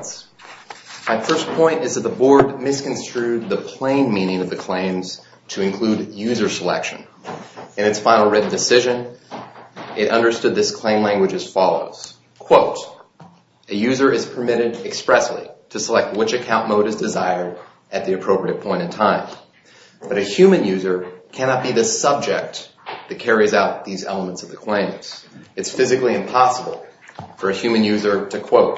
of State. My first point is that the Board misconstrued the plain meaning of the claims to include user selection. In its final written decision, it understood this claim language as follows. A user is permitted expressly to select which account mode is desired at the appropriate point in time. But a human user cannot be the subject that carries out these elements of the claims. It is physically impossible for a human user to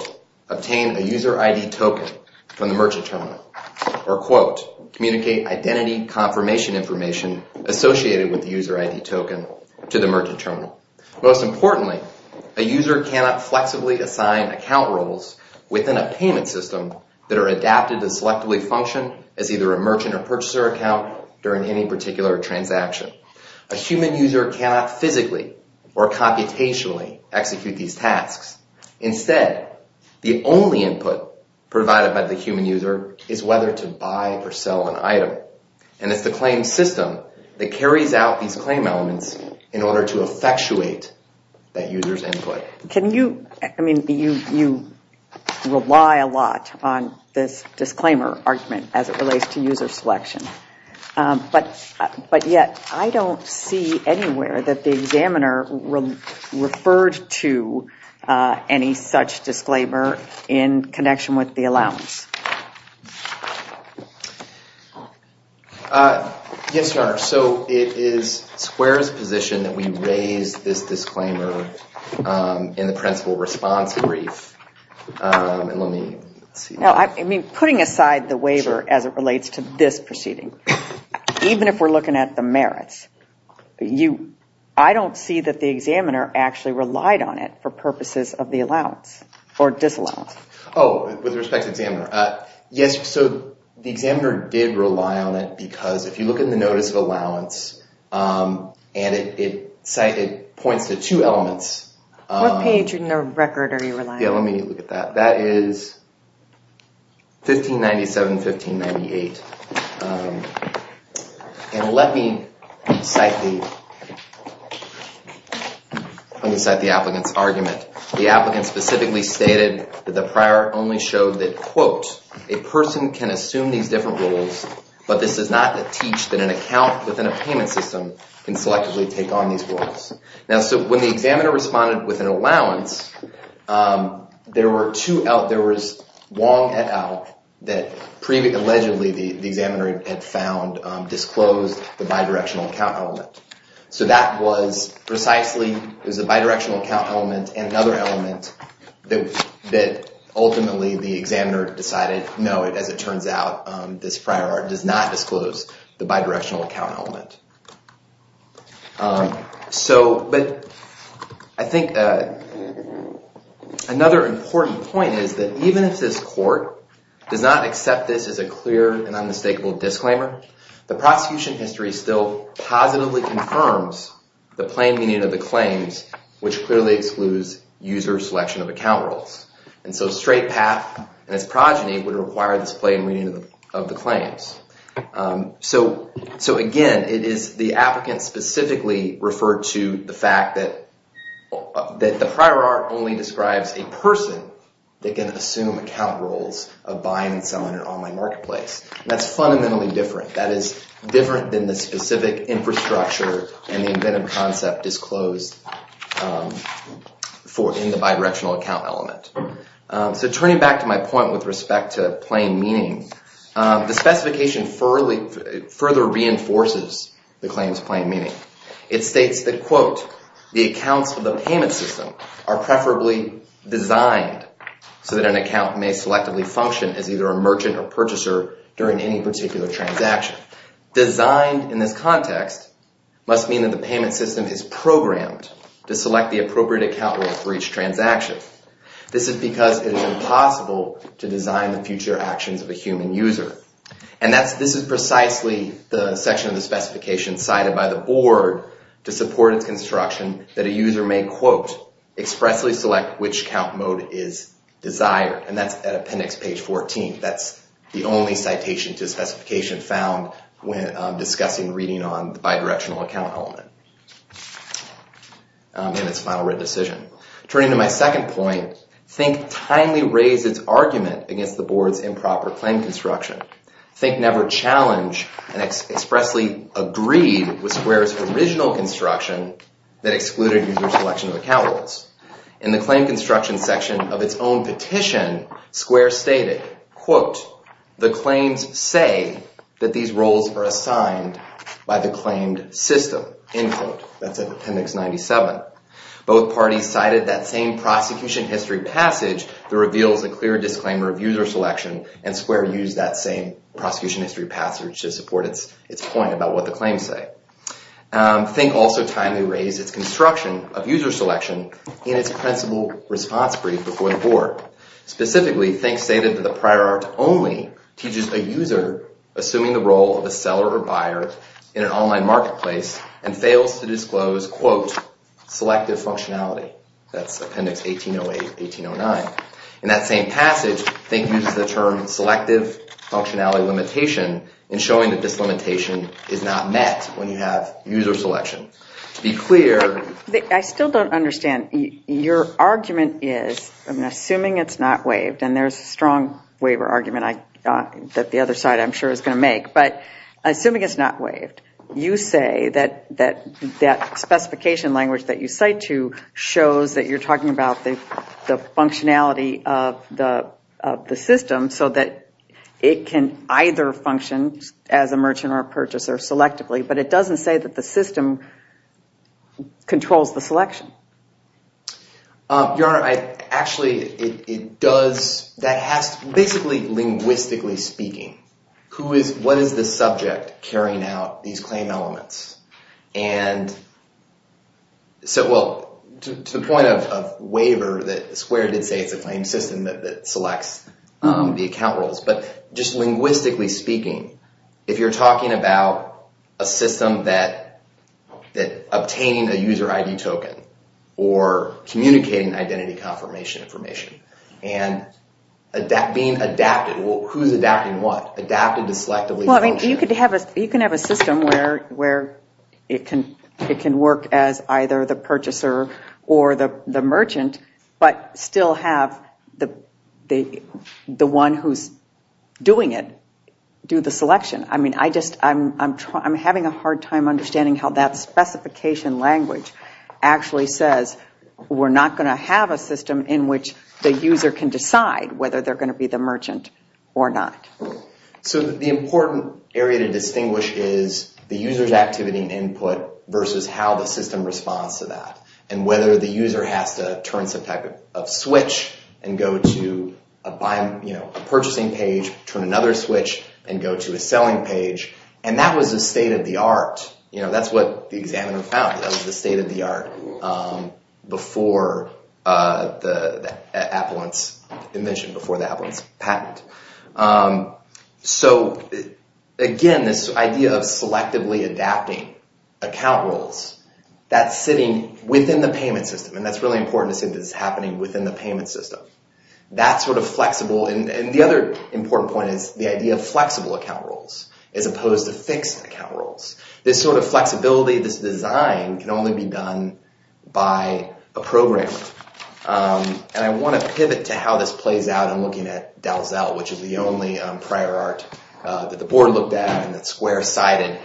obtain a user ID token from the merchant terminal or communicate identity confirmation information associated with the user ID token to the merchant terminal. Most importantly, a user cannot flexibly assign account roles within a payment system that are adapted to selectively function as either a merchant or purchaser account during any particular transaction. A human user cannot physically or computationally execute these tasks. Instead, the only input provided by the human user is whether to buy or sell an item. And it's the claim system that carries out these claim elements in order to effectuate that user's input. Can you, I mean, you rely a lot on this disclaimer argument as it relates to user selection. But yet I don't see anywhere that the examiner referred to any such disclaimer in connection with the allowance. Yes, Your Honor, so it is Square's position that we raise this disclaimer in the principal response brief. I mean, putting aside the waiver as it relates to this proceeding, even if we're looking at the merits, I don't see that the examiner actually relied on it for purposes of the allowance or disallowance. Oh, with respect to the examiner. Yes, so the examiner did rely on it because if you look in the notice of allowance and it points to two elements. What page in the record are you relying on? That is 1597, 1598. And let me cite the applicant's argument. The applicant specifically stated that the prior only showed that, quote, a person can assume these different roles, but this does not teach that an account within a payment system can selectively take on these roles. Now, so when the examiner responded with an allowance, there was Wong et al that allegedly the examiner had found disclosed the bidirectional account element. So that was precisely, it was a bidirectional account element and another element that ultimately the examiner decided, no, as it turns out, this prior does not disclose the bidirectional account element. So, but I think another important point is that even if this court does not accept this as a clear and unmistakable disclaimer, the prosecution history still positively confirms the plain meaning of the claims, which clearly excludes user selection of account roles. And so straight path and its progeny would require this plain meaning of the claims. So again, it is the applicant specifically referred to the fact that the prior art only describes a person that can assume account roles of buying and selling an online marketplace. That's fundamentally different. That is different than the specific infrastructure and the inventive concept disclosed in the bidirectional account element. So turning back to my point with respect to plain meaning, the specification further reinforces the claims plain meaning. It states that, quote, the accounts for the payment system are preferably designed so that an account may selectively function as either a merchant or purchaser during any particular transaction. Designed in this context must mean that the payment system is programmed to select the appropriate account role for each transaction. This is because it is impossible to design the future actions of a human user. And this is precisely the section of the specification cited by the board to support its construction that a user may, quote, expressly select which account mode is desired. And that's at appendix page 14. That's the only citation to specification found when discussing reading on At that point, Think timely raised its argument against the board's improper claim construction. Think never challenged and expressly agreed with Square's original construction that excluded user selection of account roles. In the claim construction section of its own petition, Square stated, quote, the claims say that these roles are assigned by the claimed system. End quote. That's at appendix 97. Both parties cited that same prosecution history passage that reveals a clear disclaimer of user selection and Square used that same prosecution history passage to support its point about what the claims say. Think also timely raised its construction of user selection in its principal response brief before the board. Specifically, Think stated that the prior art only teaches a user assuming the role of a seller or buyer in an online marketplace and fails to disclose, quote, selective functionality. That's appendix 1808, 1809. In that same passage, Think uses the term selective functionality limitation in showing that this limitation is not met when you have user selection. To be clear... I still don't understand. Your argument is, I'm assuming it's not waived, and there's a strong waiver argument that the other side I'm sure is going to make, but assuming it's not waived, you say that that specification language that you cite to shows that you're talking about the functionality of the system so that it can either function as a merchant or a purchaser selectively, but it doesn't say that the system controls the selection. Actually, it does. Basically, linguistically speaking, what is the subject carrying out these claim elements? To the point of waiver, Square did say it's a claim system that selects the account roles, but just linguistically speaking, if you're talking about a system that obtaining a user ID token or communicating identity confirmation information and being adapted, who's adapting what? Adapted to selectively function. You can have a system where it can work as either the purchaser or the merchant, but still have the one who's doing it do the selection. I'm having a hard time understanding how that specification language actually says we're not going to have a system in which the user can decide whether they're going to be the merchant or not. The important area to distinguish is the user's activity and input versus how the system responds to that, and whether the user has to turn some type of switch and go to a purchasing page, turn another switch, and go to a selling page. That was the state of the art. That's what the examiner found. That was the state of the art before the Appellant's invention, before the Appellant's patent. Again, this idea of selectively adapting account roles, that's sitting within the payment system. That's really important to see if it's happening within the payment system. The other important point is the idea of flexible account roles as opposed to fixed account roles. This sort of flexibility, this design, can only be done by a programmer. I want to pivot to how this plays out in looking at Dalzell, which is the only prior art that the board looked at and that's square-sided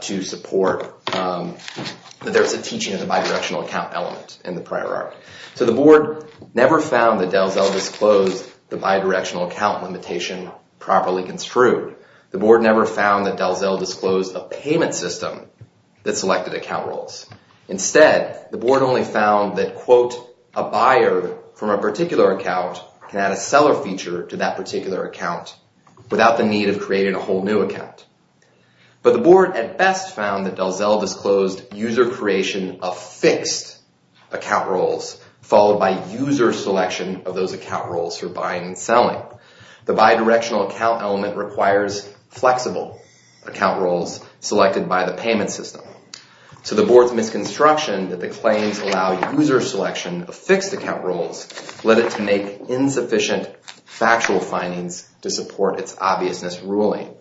to support that there's a teaching of the bi-directional account element in the prior art. The board never found that Dalzell disclosed the bi-directional account limitation properly construed. The board never found that Dalzell disclosed a payment system that selected account roles. Instead, the board only found that a buyer from a particular account can add a seller feature to that particular account without the need of creating a whole new account. But the board at best found that Dalzell disclosed user creation of fixed account roles followed by user selection of those account roles for buying and selling. The bi-directional account element requires flexible account roles selected by the payment system. So the board's misconstruction that the claims allow user selection of fixed account roles led it to make insufficient factual findings to support its obviousness ruling.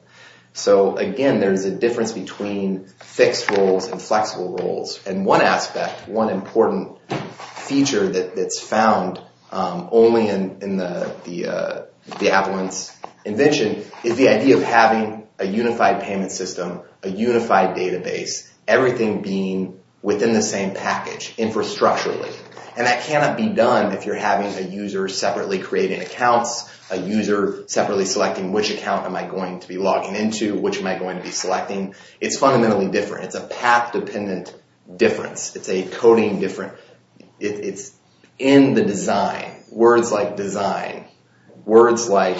So again, there's a difference between fixed roles and flexible roles. And one aspect, one important feature that's found only in the Avalance invention is the idea of having a unified payment system, a unified database, everything being within the same package infrastructurally. And that cannot be done if you're having a user separately creating accounts, a user separately selecting which account am I going to be logging into, which am I going to be selecting. It's fundamentally different. It's a path-dependent difference. It's a coding difference. It's in the design, words like design, words like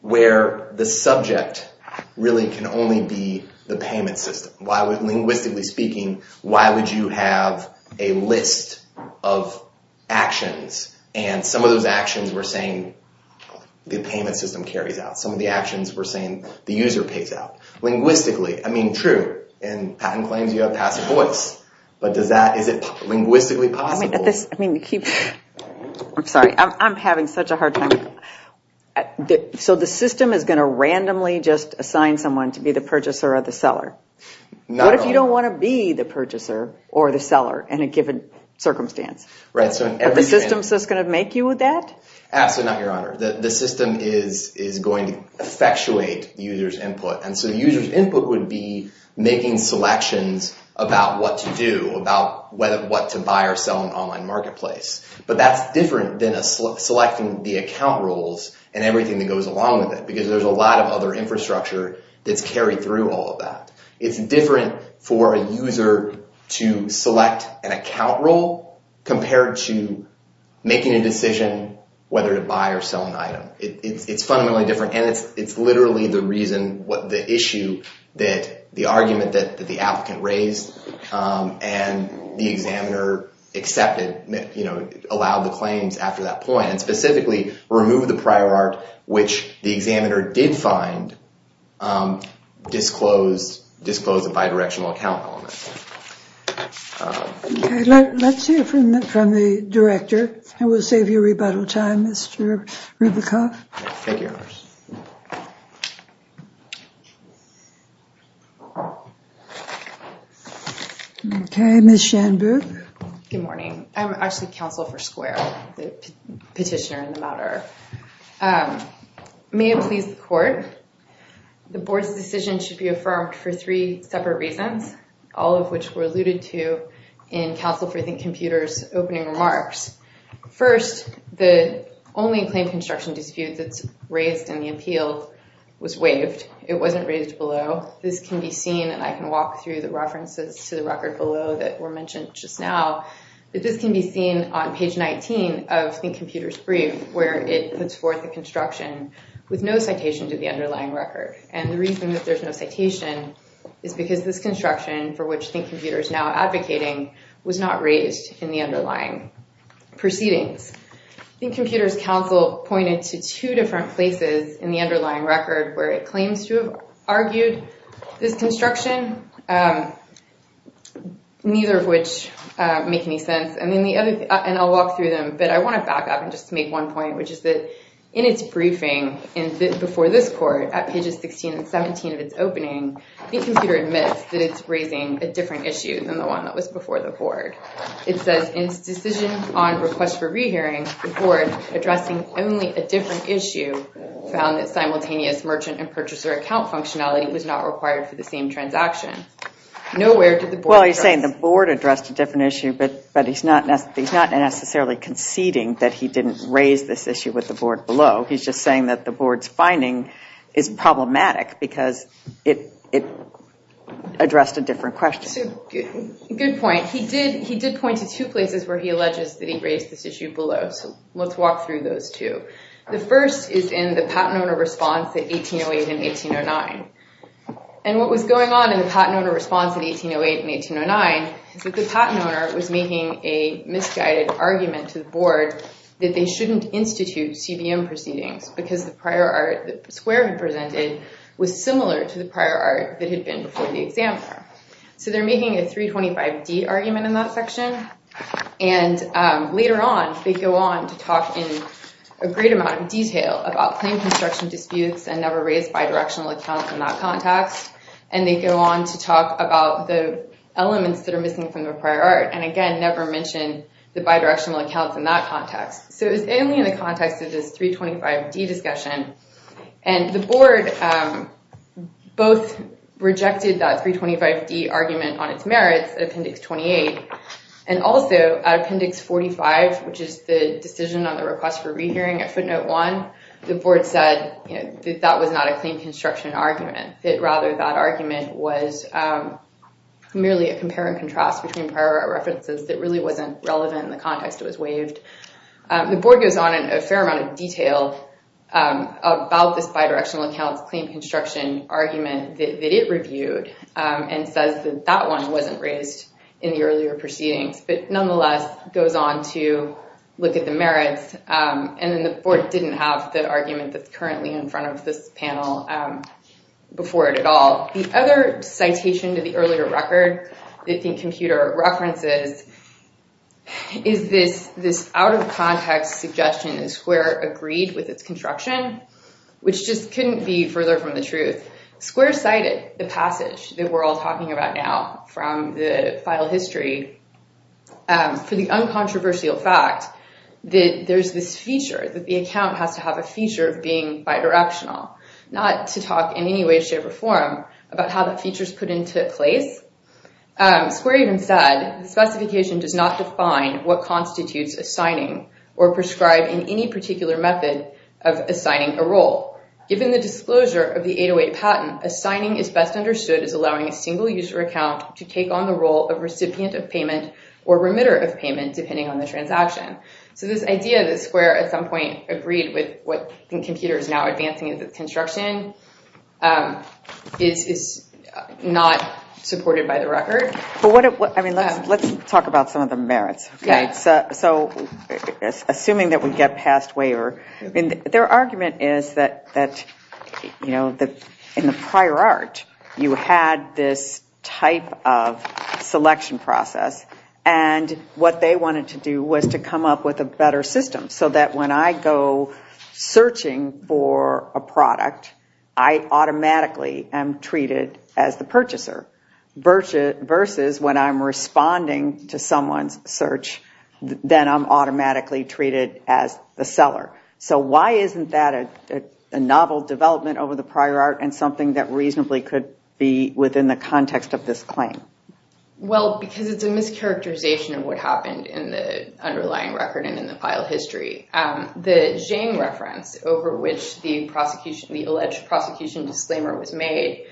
where the subject really can only be the payment system. Linguistically speaking, why would you have a list of actions and some of those actions were saying the payment system carries out. Some of the actions were saying the user pays out. Linguistically, I mean true, in patent claims you have passive voice, but is it linguistically possible? I'm sorry, I'm having such a hard time. So the system is going to randomly just assign someone to be the purchaser or the seller. What if you don't want to be the purchaser or the seller in a given circumstance? Are the systems just going to make you that? Absolutely not, Your Honor. The system is going to effectuate the user's input. And so the user's input would be making selections about what to do, about what to buy or sell in an online marketplace. But that's different than selecting the account rules and everything that goes along with it, because there's a lot of other infrastructure that's carried through all of that. It's different for a user to select an account rule compared to making a decision whether to buy or sell an item. It's fundamentally different and it's literally the reason what the issue that the argument that the applicant raised and the examiner accepted, allowed the claims after that point and specifically removed the prior art which the examiner did find disclosed a bidirectional account element. Let's hear from the director and we'll save you rebuttal time, Mr. Ribicoff. Thank you, Your Honor. Okay, Ms. Shanbooth. Good morning. I'm actually Counsel for Square, the petitioner in the matter. May it please the Court, the Board's decision should be affirmed for three separate reasons, all of which were alluded to in Counsel for Think Computer's opening remarks. First, the only claim construction dispute that's raised in the appeal was waived. It wasn't raised below. This can be seen, and I can walk through the references to the record below that were mentioned just now, that this can be seen on page 19 of Think Computer's brief where it puts forth the construction with no citation to the underlying record. And the reason that there's no citation is because this construction for which Think Computer is now advocating was not raised in the underlying proceedings. Think Computer's counsel pointed to two different places in the underlying record where it claims to have argued this construction, neither of which make any sense. And I'll walk through them, but I want to back up and just make one point, which is that in its briefing before this Court at pages 16 and 17 of its opening, Think Computer admits that it's raising a different issue than the one that was before the Board. It says, in its decision on request for rehearing, the Board, addressing only a different issue, found that simultaneous merchant and purchaser account functionality was not required for the same transaction. Nowhere did the Board address... Well, he's saying the Board addressed a different issue, but he's not necessarily conceding that he didn't raise this issue with the Board below. He's just saying that the Board's finding is problematic because it addressed a different question. Good point. He did point to two places where he alleges that he raised this issue below, so let's walk through those two. The first is in the patent owner response in 1808 and 1809. And what was going on in the patent owner response in 1808 and 1809 is that the patent owner was making a misguided argument to the Board that they shouldn't institute CBM proceedings because the prior art that Square had presented was similar to the prior art that had been before the examiner. So they're making a 325D argument in that section, and later on they go on to talk in a great amount of detail about claim construction disputes and never raised bidirectional accounts in that context. And they go on to talk about the elements that are missing from the prior art, and again, they never mention the bidirectional accounts in that context. So it was mainly in the context of this 325D discussion, and the Board both rejected that 325D argument on its merits at Appendix 28, and also at Appendix 45, which is the decision on the request for rehearing at footnote 1, the Board said that that was not a claim construction argument. That rather that argument was merely a compare and contrast between prior art references that really wasn't relevant in the context it was waived. The Board goes on in a fair amount of detail about this bidirectional accounts claim construction argument that it reviewed and says that that one wasn't raised in the earlier proceedings, but nonetheless goes on to look at the merits. And then the Board didn't have the argument that's currently in front of this panel before it at all. The other citation to the earlier record that the computer references is this out of context suggestion that Square agreed with its construction, which just couldn't be further from the truth. Square cited the passage that we're all talking about now from the file history for the uncontroversial fact that there's this feature that the account has to have a feature of being bidirectional, not to talk in any way, shape, or form about how the features put into place. Square even said specification does not define what constitutes assigning or prescribe in any particular method of assigning a role. Given the disclosure of the 808 payment or remitter of payment depending on the transaction. So this idea that Square at some point agreed with what the computer is now advancing in the construction is not supported by the record. Let's talk about some of the merits. Assuming that we get passed waiver, their argument is that in the prior art, you had this type of selection process, and what they wanted to do was to come up with a better system so that when I go searching for a product, I automatically am treated as the purchaser. Versus when I'm responding to someone's search, then I'm automatically treated as the seller. So why isn't that a novel development over the prior art and something that reasonably could be within the context of this claim? Well, because it's a mischaracterization of what happened in the underlying record and in the file history. The Jane reference over which the alleged prosecution disclaimer was made,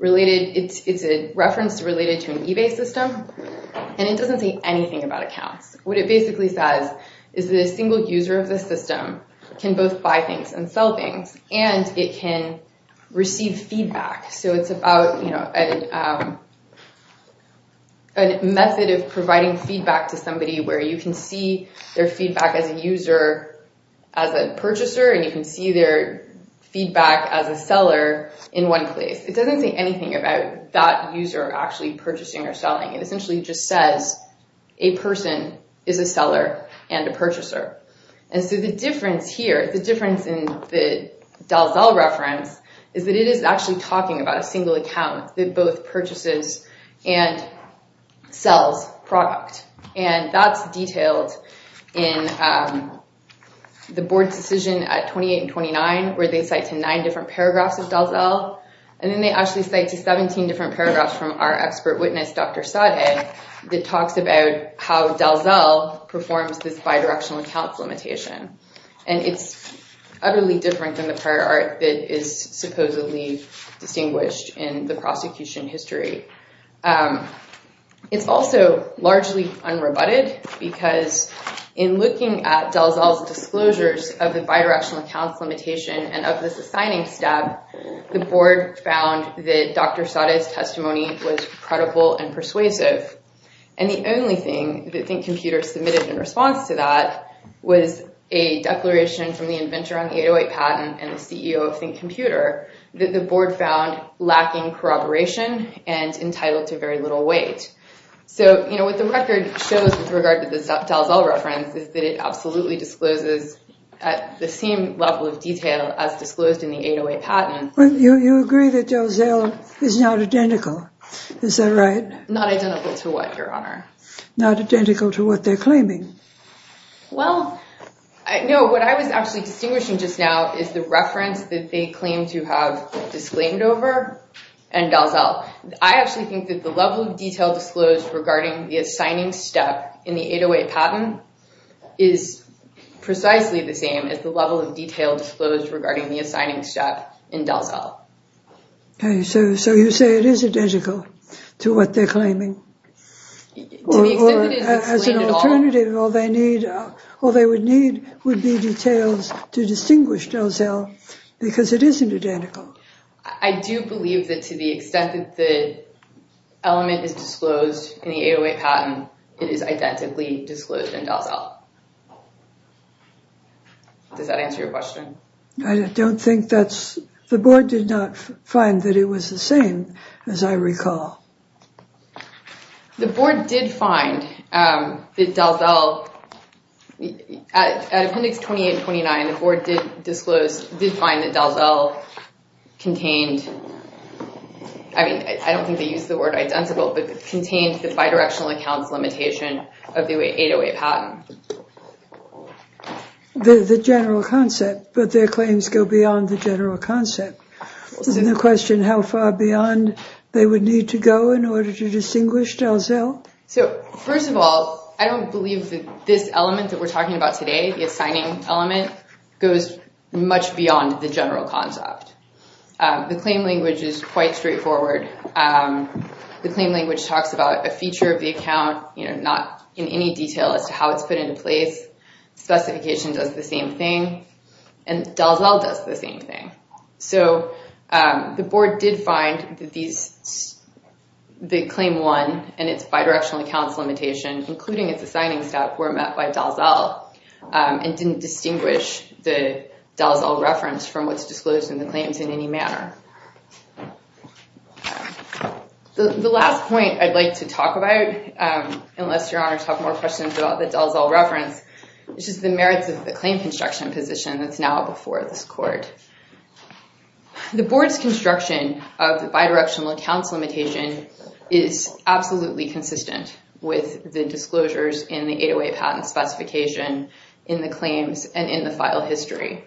it's a reference related to an eBay system, and it doesn't say anything about how the system can both buy things and sell things, and it can receive feedback. So it's about a method of providing feedback to somebody where you can see their feedback as a user, as a purchaser, and you can see their feedback as a seller in one place. It doesn't say anything about that user actually purchasing or selling. It essentially just says, okay, so the difference here, the difference in the Dalzell reference, is that it is actually talking about a single account that both purchases and sells product. And that's detailed in the board's decision at 28 and 29, where they cite to nine different paragraphs of Dalzell, and then they actually cite to 17 different paragraphs from our expert witness, Dr. Sade, that talks about how Dalzell performs this bi-directional accounts limitation. And it's utterly different than the prior art that is supposedly distinguished in the prosecution history. It's also largely unrebutted, because in looking at Dalzell's disclosures of the bi-directional accounts limitation and of this assigning step, the only thing that Think Computer submitted in response to that was a declaration from the inventor on the 808 patent and the CEO of Think Computer that the board found lacking corroboration and entitled to very little weight. So what the record shows with regard to the Dalzell reference is that it absolutely discloses at the same level of detail as disclosed in the 808 patent. You agree that Dalzell is not identical, is that right? Not identical to what, Your Honor? Not identical to what they're claiming. Well, no, what I was actually distinguishing just now is the reference that they claim to have disclaimed over in Dalzell. I actually think that the level of detail disclosed regarding the assigning step in the 808 patent is precisely the same as the level of detail disclosed regarding the assigning step in Dalzell. Okay, so you say it is identical to what they're claiming. To the extent that it is disclaimed at all. Or as an alternative, all they would need would be details to distinguish Dalzell, because it isn't identical. I do believe that to the extent that the element is disclosed in the 808 patent, it is identically disclosed in Dalzell. Does that answer your question? I don't think that's... The Board did not find that it was the same, as I recall. The Board did find that Dalzell... At Appendix 2829, the Board did find that Dalzell contained... I mean, I don't think they used the word identical, but contained the bidirectional accounts limitation of the 808 patent. The general concept, but their claims go beyond the general concept. Isn't the question how far beyond they would need to go in order to distinguish Dalzell? So, first of all, I don't believe that this element that we're talking about today, the assigning element, goes much beyond the general concept. The claim language is quite straightforward. The claim language talks about a feature of the account, not in any detail as to how it's put into place. Specification does the same thing, and Dalzell does the same thing. The Board did find that the Claim 1 and its bidirectional accounts limitation, including its assigning step, were met by Dalzell and didn't distinguish the Dalzell reference from what's disclosed in the claims in any manner. The last point I'd like to talk about, unless Your Honor has more questions about the Dalzell reference, is the merits of the claim construction position that's now before this Court. The Board's construction of the bidirectional accounts limitation is absolutely consistent with the disclosures in the 808 patent specification in the claims and in the file history.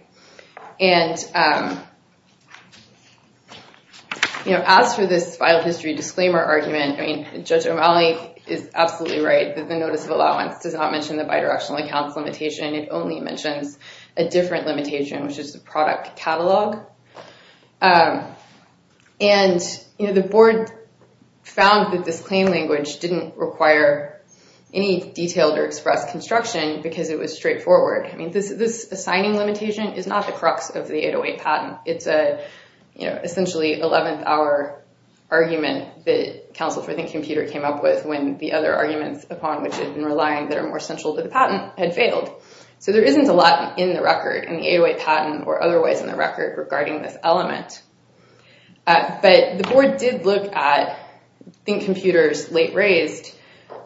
As for this file history disclaimer argument, Judge O'Malley is absolutely right that the Notice of Allowance does not mention the bidirectional accounts limitation. It only mentions a different limitation, which is the product catalog. The Board found that this claim language didn't require any detailed or expressed construction because it was straightforward. This assigning limitation is not the crux of the 808 patent. It's essentially an 11th hour argument that the other arguments upon which it had been relying that are more central to the patent had failed. So there isn't a lot in the record, in the 808 patent or otherwise in the record, regarding this element. But the Board did look at Think Computer's late-raised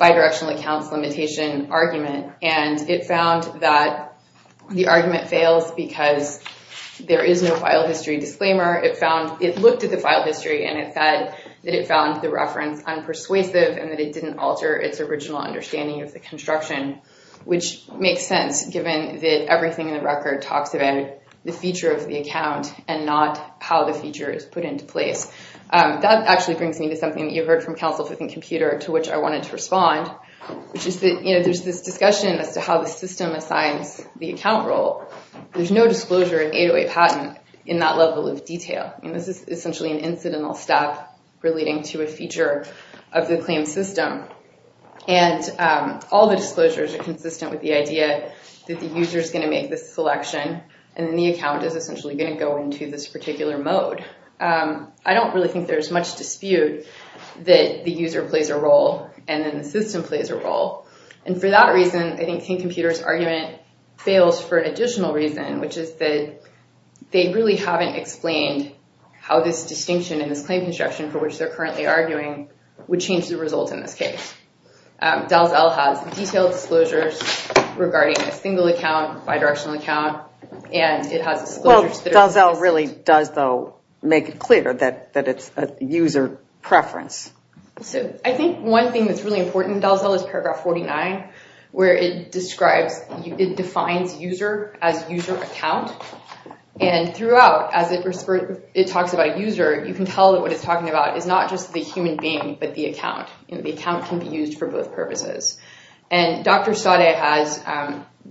bidirectional accounts limitation argument, and it found that the argument fails because there is no file history disclaimer. It looked at the file history and it said that it found the reference unpersuasive and that it didn't alter its original understanding of the construction, which makes sense given that everything in the record talks about the feature of the account and not how the feature is put into place. That actually brings me to something that you've heard from counsel within Computer to which I wanted to respond, which is that there's this discussion as to how the system assigns the account role. There's no disclosure in 808 patent in that level of detail. This is essentially an incidental step relating to a feature of the claim system, and all the disclosures are consistent with the idea that the user is going to make this selection and the account is essentially going to go into this particular mode. I don't really think there's much dispute that the user plays a role and then the system plays a role. And for that reason, I think King Computer's argument fails for an additional reason, which is that they really haven't explained how this distinction in this claim construction for which they're currently arguing would change the results in this case. Dalzell has detailed disclosures regarding a single account, bidirectional account, and it has disclosures that are consistent. Dalzell really does, though, make it clear that it's a user preference. I think one thing that's really important, Dalzell, is paragraph 49, where it defines user as user account. And throughout, as it talks about user, you can tell that what it's talking about is not just the human being, but the account. The account can be used for both purposes. And Dr. Sade has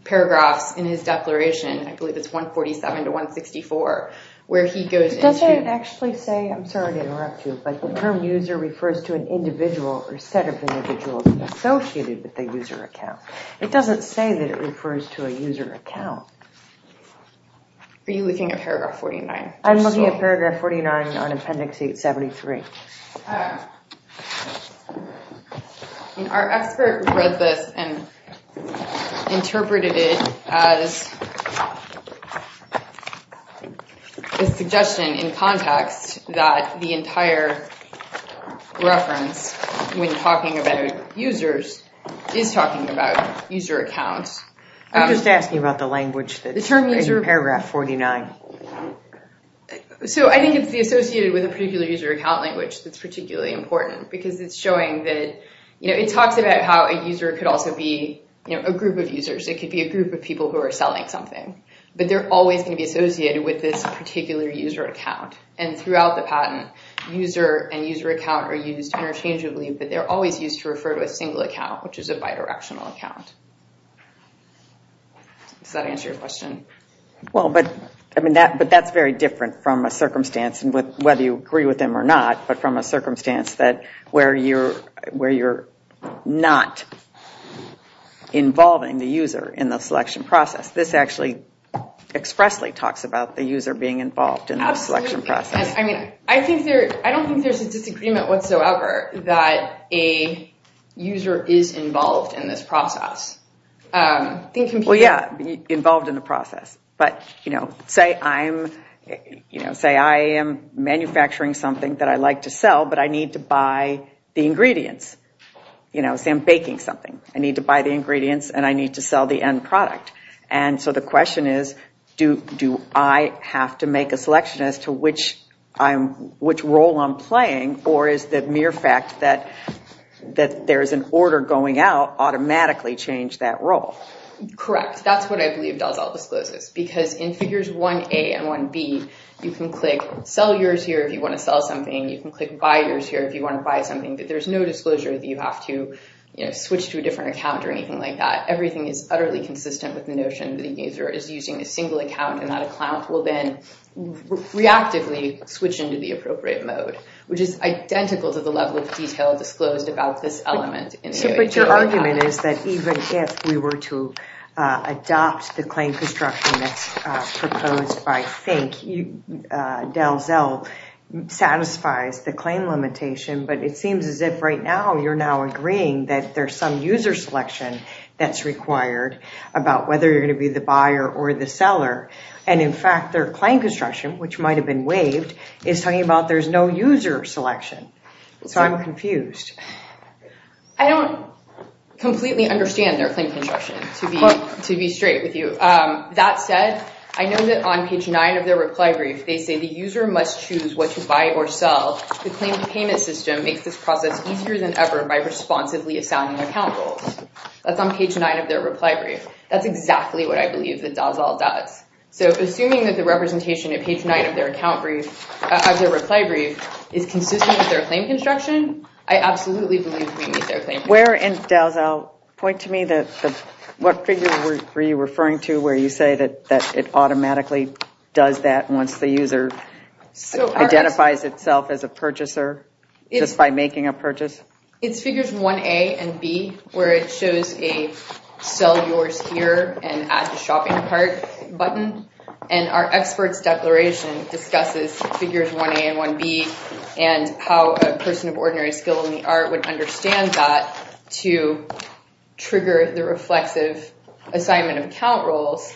paragraphs in his declaration, I believe it's 147 to 164, where he goes into... Does it actually say, I'm sorry to interrupt you, but the term user refers to an individual or set of individuals associated with the user account. It doesn't say that it refers to a user account. Are you looking at paragraph 49? I'm looking at paragraph 49 on Appendix 873. Our expert read this and interpreted it as a suggestion in context that the entire reference, when talking about users, is talking about user account. I'm just asking about the language that's in paragraph 49. I think it's the associated with a particular user account language that's particularly important, because it's showing that... It talks about how a user could also be a group of users. It could be a group of people who are selling something. But they're always going to be associated with this particular user account. And throughout the patent, user and user account are used interchangeably, but they're always used to refer to a single account, which is a bidirectional account. Does that answer your question? But that's very different from a circumstance, whether you agree with them or not, but from a circumstance where you're not involving the user in the selection process. This actually expressly talks about the user being involved in the selection process. I don't think there's a disagreement whatsoever that a user is involved in this process. Involved in the process. But say I am manufacturing something that I like to sell, but I need to buy the ingredients. Say I'm baking something. I need to buy the ingredients and I need to sell the end product. And so the question is, do I have to make a selection as to which role I'm playing, or is the mere fact that there's an order going out automatically change that role? Correct. That's what I believe does all disclosures. Because in figures 1A and 1B, you can click sell yours here if you want to sell something. You can click buy yours here if you want to buy something. But there's no disclosure that you have to switch to a different account or anything like that. Everything is utterly consistent with the notion that the user is using a single account and that a client will then reactively switch into the appropriate mode, which is identical to the level of detail disclosed about this element. But your argument is that even if we were to say Delzel satisfies the claim limitation, but it seems as if right now you're now agreeing that there's some user selection that's required about whether you're going to be the buyer or the seller. And in fact, their claim construction, which might have been waived, is talking about there's no user selection. So I'm confused. I don't completely understand their claim construction, to be straight with you. That said, I know that on page 9 of their reply brief, they say the user must choose what to buy or sell. The claim payment system makes this process easier than ever by responsibly assigning account roles. That's on page 9 of their reply brief. That's exactly what I believe that Delzel does. So assuming that the representation at page 9 of their reply brief is consistent with their claim construction, I absolutely believe we meet their claim. Where in Delzel, point to me, what figure were you referring to where you say that it automatically does that once the user identifies itself as a purchaser just by making a purchase? It's figures 1A and B, where it shows a sell yours here and add to shopping cart button. And our expert's declaration discusses figures 1A and 1B and how a person of ordinary skill in the art would understand that to trigger the reflexive assignment of account roles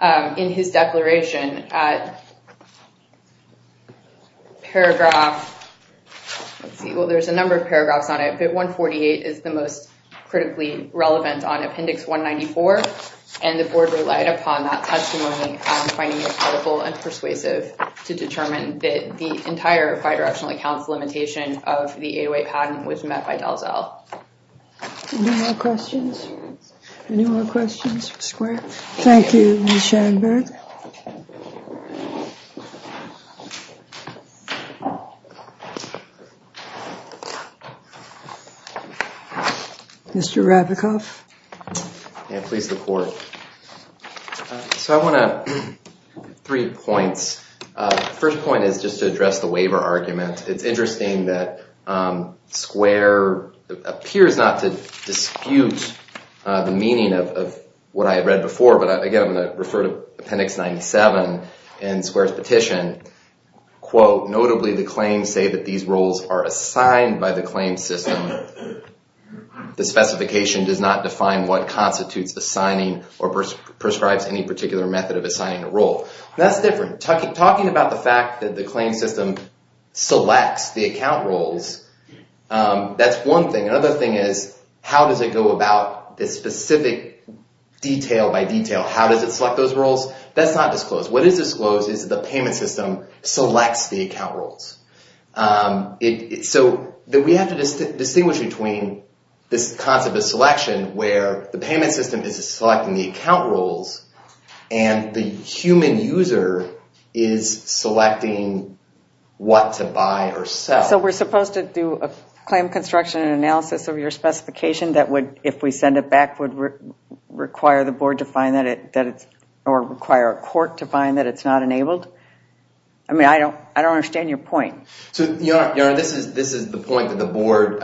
in his declaration. There's a number of paragraphs on it, but 148 is the most critically relevant on appendix 194, and the entire bidirectional accounts limitation of the 808 patent was met by Delzel. Any more questions? Thank you, Ms. Schoenberg. Mr. Rabicoff. Please report. Three points. First point is just to address the waiver argument. It's interesting that Square appears not to dispute the meaning of what I read before, but again, I'm going to refer to appendix 97 in Square's petition. Quote, notably the claims say that these roles are assigned by the claim system. The specification does not define what constitutes assigning or prescribes any particular method of assigning a role. That's different. Talking about the fact that the claim system selects the account roles, that's one thing. Another thing is how does it go about this specific detail by detail? How does it select those roles? That's not disclosed. What is disclosed is the payment system selects the account roles. We have to distinguish between this concept of selection where the payment system is selecting the account roles and the human user is selecting what to buy or sell. We're supposed to do a claim construction analysis of your specification that would, if we send it back, require a court to find that it's not enabled? I don't understand your point. This is the point that the board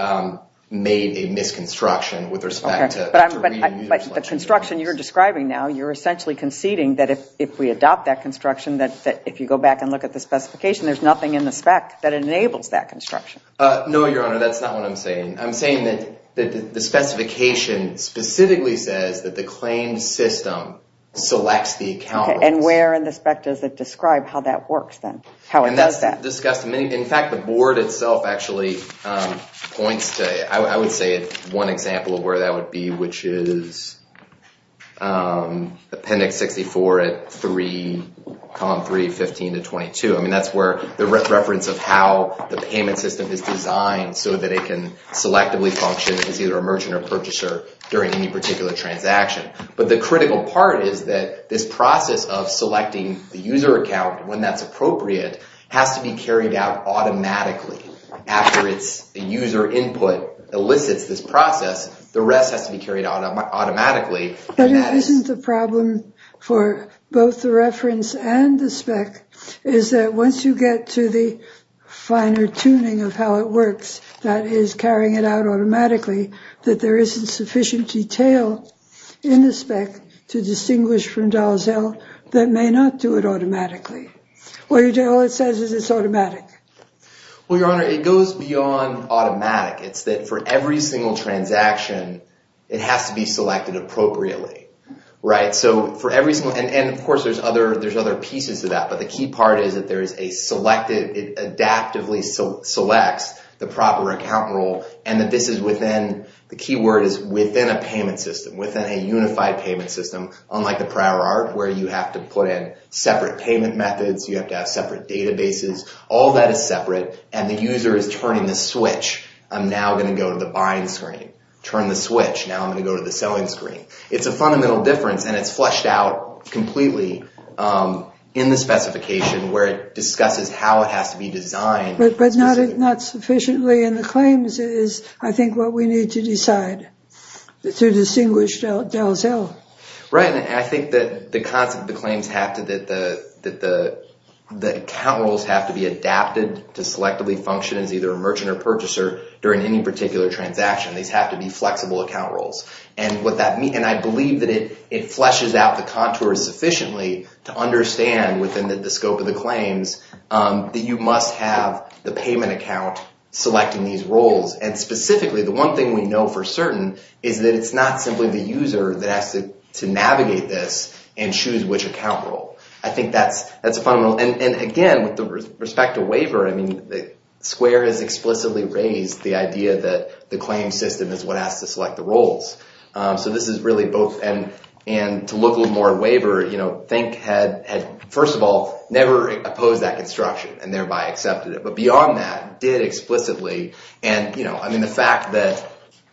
made a misconstruction with respect to the construction you're describing now. You're essentially conceding that if we adopt that construction, if you go back and look at the specification, there's nothing in the spec that enables that construction. No, Your Honor, that's not what I'm saying. I'm saying that the specification specifically says that the claim system selects the account roles. And where in the spec does it describe how that works then? How it does that? In fact, the board itself actually points to, I would say, one example of where that would be, which is Appendix 64, Column 3, 15-22. I mean, that's where the reference of how the payment system is designed so that it can selectively function as either a merchant or purchaser during any particular transaction. But the critical part is that this process of selecting the user account when that's appropriate has to be carried out automatically. After the user input elicits this process, the rest has to be carried out automatically. But isn't the problem for both the reference and the spec is that once you get to the finer tuning of how it works, that is, carrying it out automatically, that there isn't sufficient detail in the spec to distinguish from dollars held that may not do it automatically. All it says is it's automatic. Well, Your Honor, it goes beyond automatic. It's that for every single transaction, it has to be selected appropriately. And of course, there's other pieces to that. But the key part is that it adaptively selects the proper account role. The key word is within a payment system, within a unified payment system, unlike the prior art, where you have to put in separate payment methods, you have to have separate databases. All that is separate, and the user is turning the switch. I'm now going to go to the buying screen. Turn the switch. Now I'm going to go to the selling screen. It's a fundamental difference, and it's flushed out completely in the specification where it discusses how it has to be designed. But not sufficiently in the claims is, I think, what we need to decide to distinguish dollars held. Right, and I think that the concept of the claims have to, that the account roles have to be adapted to selectively function as either a merchant or purchaser during any particular transaction. These have to be flexible account roles. And I believe that it flushes out the contour sufficiently to understand within the scope of the claims that you must have the payment account selecting these roles. And specifically, the one thing we know for certain is that it's not simply the user that has to navigate this and choose which account role. I think that's fundamental. And again, with respect to waiver, Square has explicitly raised the idea that the claims system is what has to select the roles. So this is really both, and to look a little more at waiver, think had, first of all, never opposed that construction and thereby accepted it. But beyond that, did explicitly, and the fact that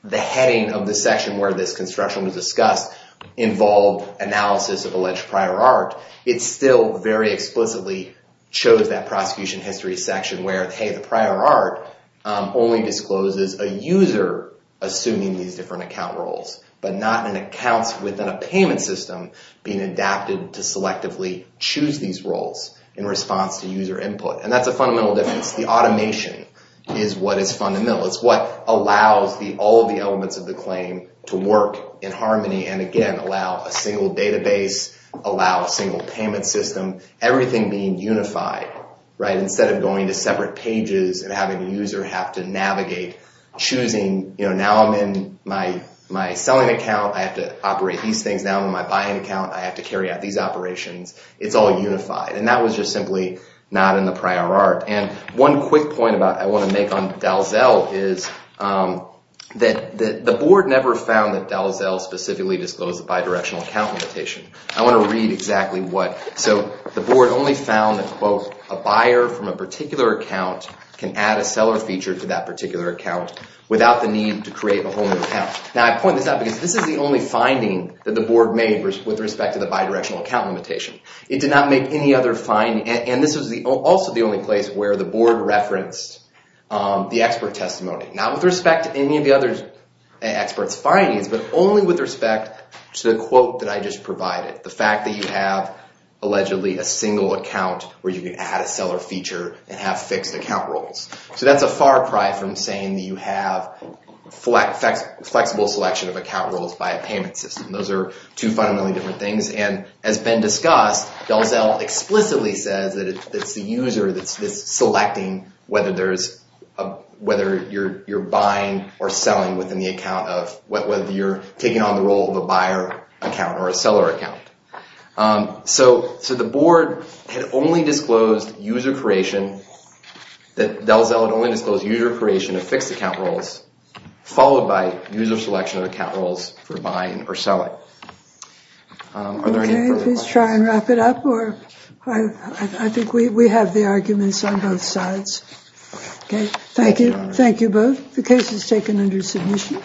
the heading of the section where this construction was discussed involved analysis of alleged prior art, it still very explicitly chose that prosecution history section where, hey, the prior art only discloses a user assuming these different account roles, but not in accounts within a payment system being adapted to selectively choose these roles in response to user input. And that's a fundamental difference. The automation is what is fundamental. It's what allows all of the elements of the claim to work in harmony and, again, allow a single database, allow a single payment system, everything being unified. Instead of going to separate pages and having the user have to navigate choosing, now I'm in my selling account. I have to operate these things. Now I'm in my buying account. I have to carry out these operations. It's all unified. And that was just simply not in the prior art. And one quick point I want to make on Dalzell is that the board never found that Dalzell specifically disclosed a bidirectional account limitation. I want to read exactly what. So the board only found that, quote, a buyer from a particular account can add a seller feature to that particular account without the need to create a whole new account. Now I point this out because this is the only finding that the board made with respect to the bidirectional account limitation. It did not make any other finding. And this was also the only place where the board referenced the expert testimony, not with respect to any of the other experts' findings, but only with respect to the quote that I just provided, the fact that you have allegedly a single account where you can add a seller feature and have fixed account roles. So that's a far cry from saying that you have flexible selection of account roles by a payment system. Those are two fundamentally different things. And as been discussed, Dalzell explicitly says that it's the user that's selecting whether you're buying or selling within the account of whether you're taking on the role of a buyer account or a seller account. So the board had only disclosed user creation, that Dalzell had only disclosed user creation of fixed account roles, followed by user selection of account roles for buying or selling. Are there any further questions? Okay, please try and wrap it up. I think we have the arguments on both sides. Thank you. Thank you both. The case is taken under submission.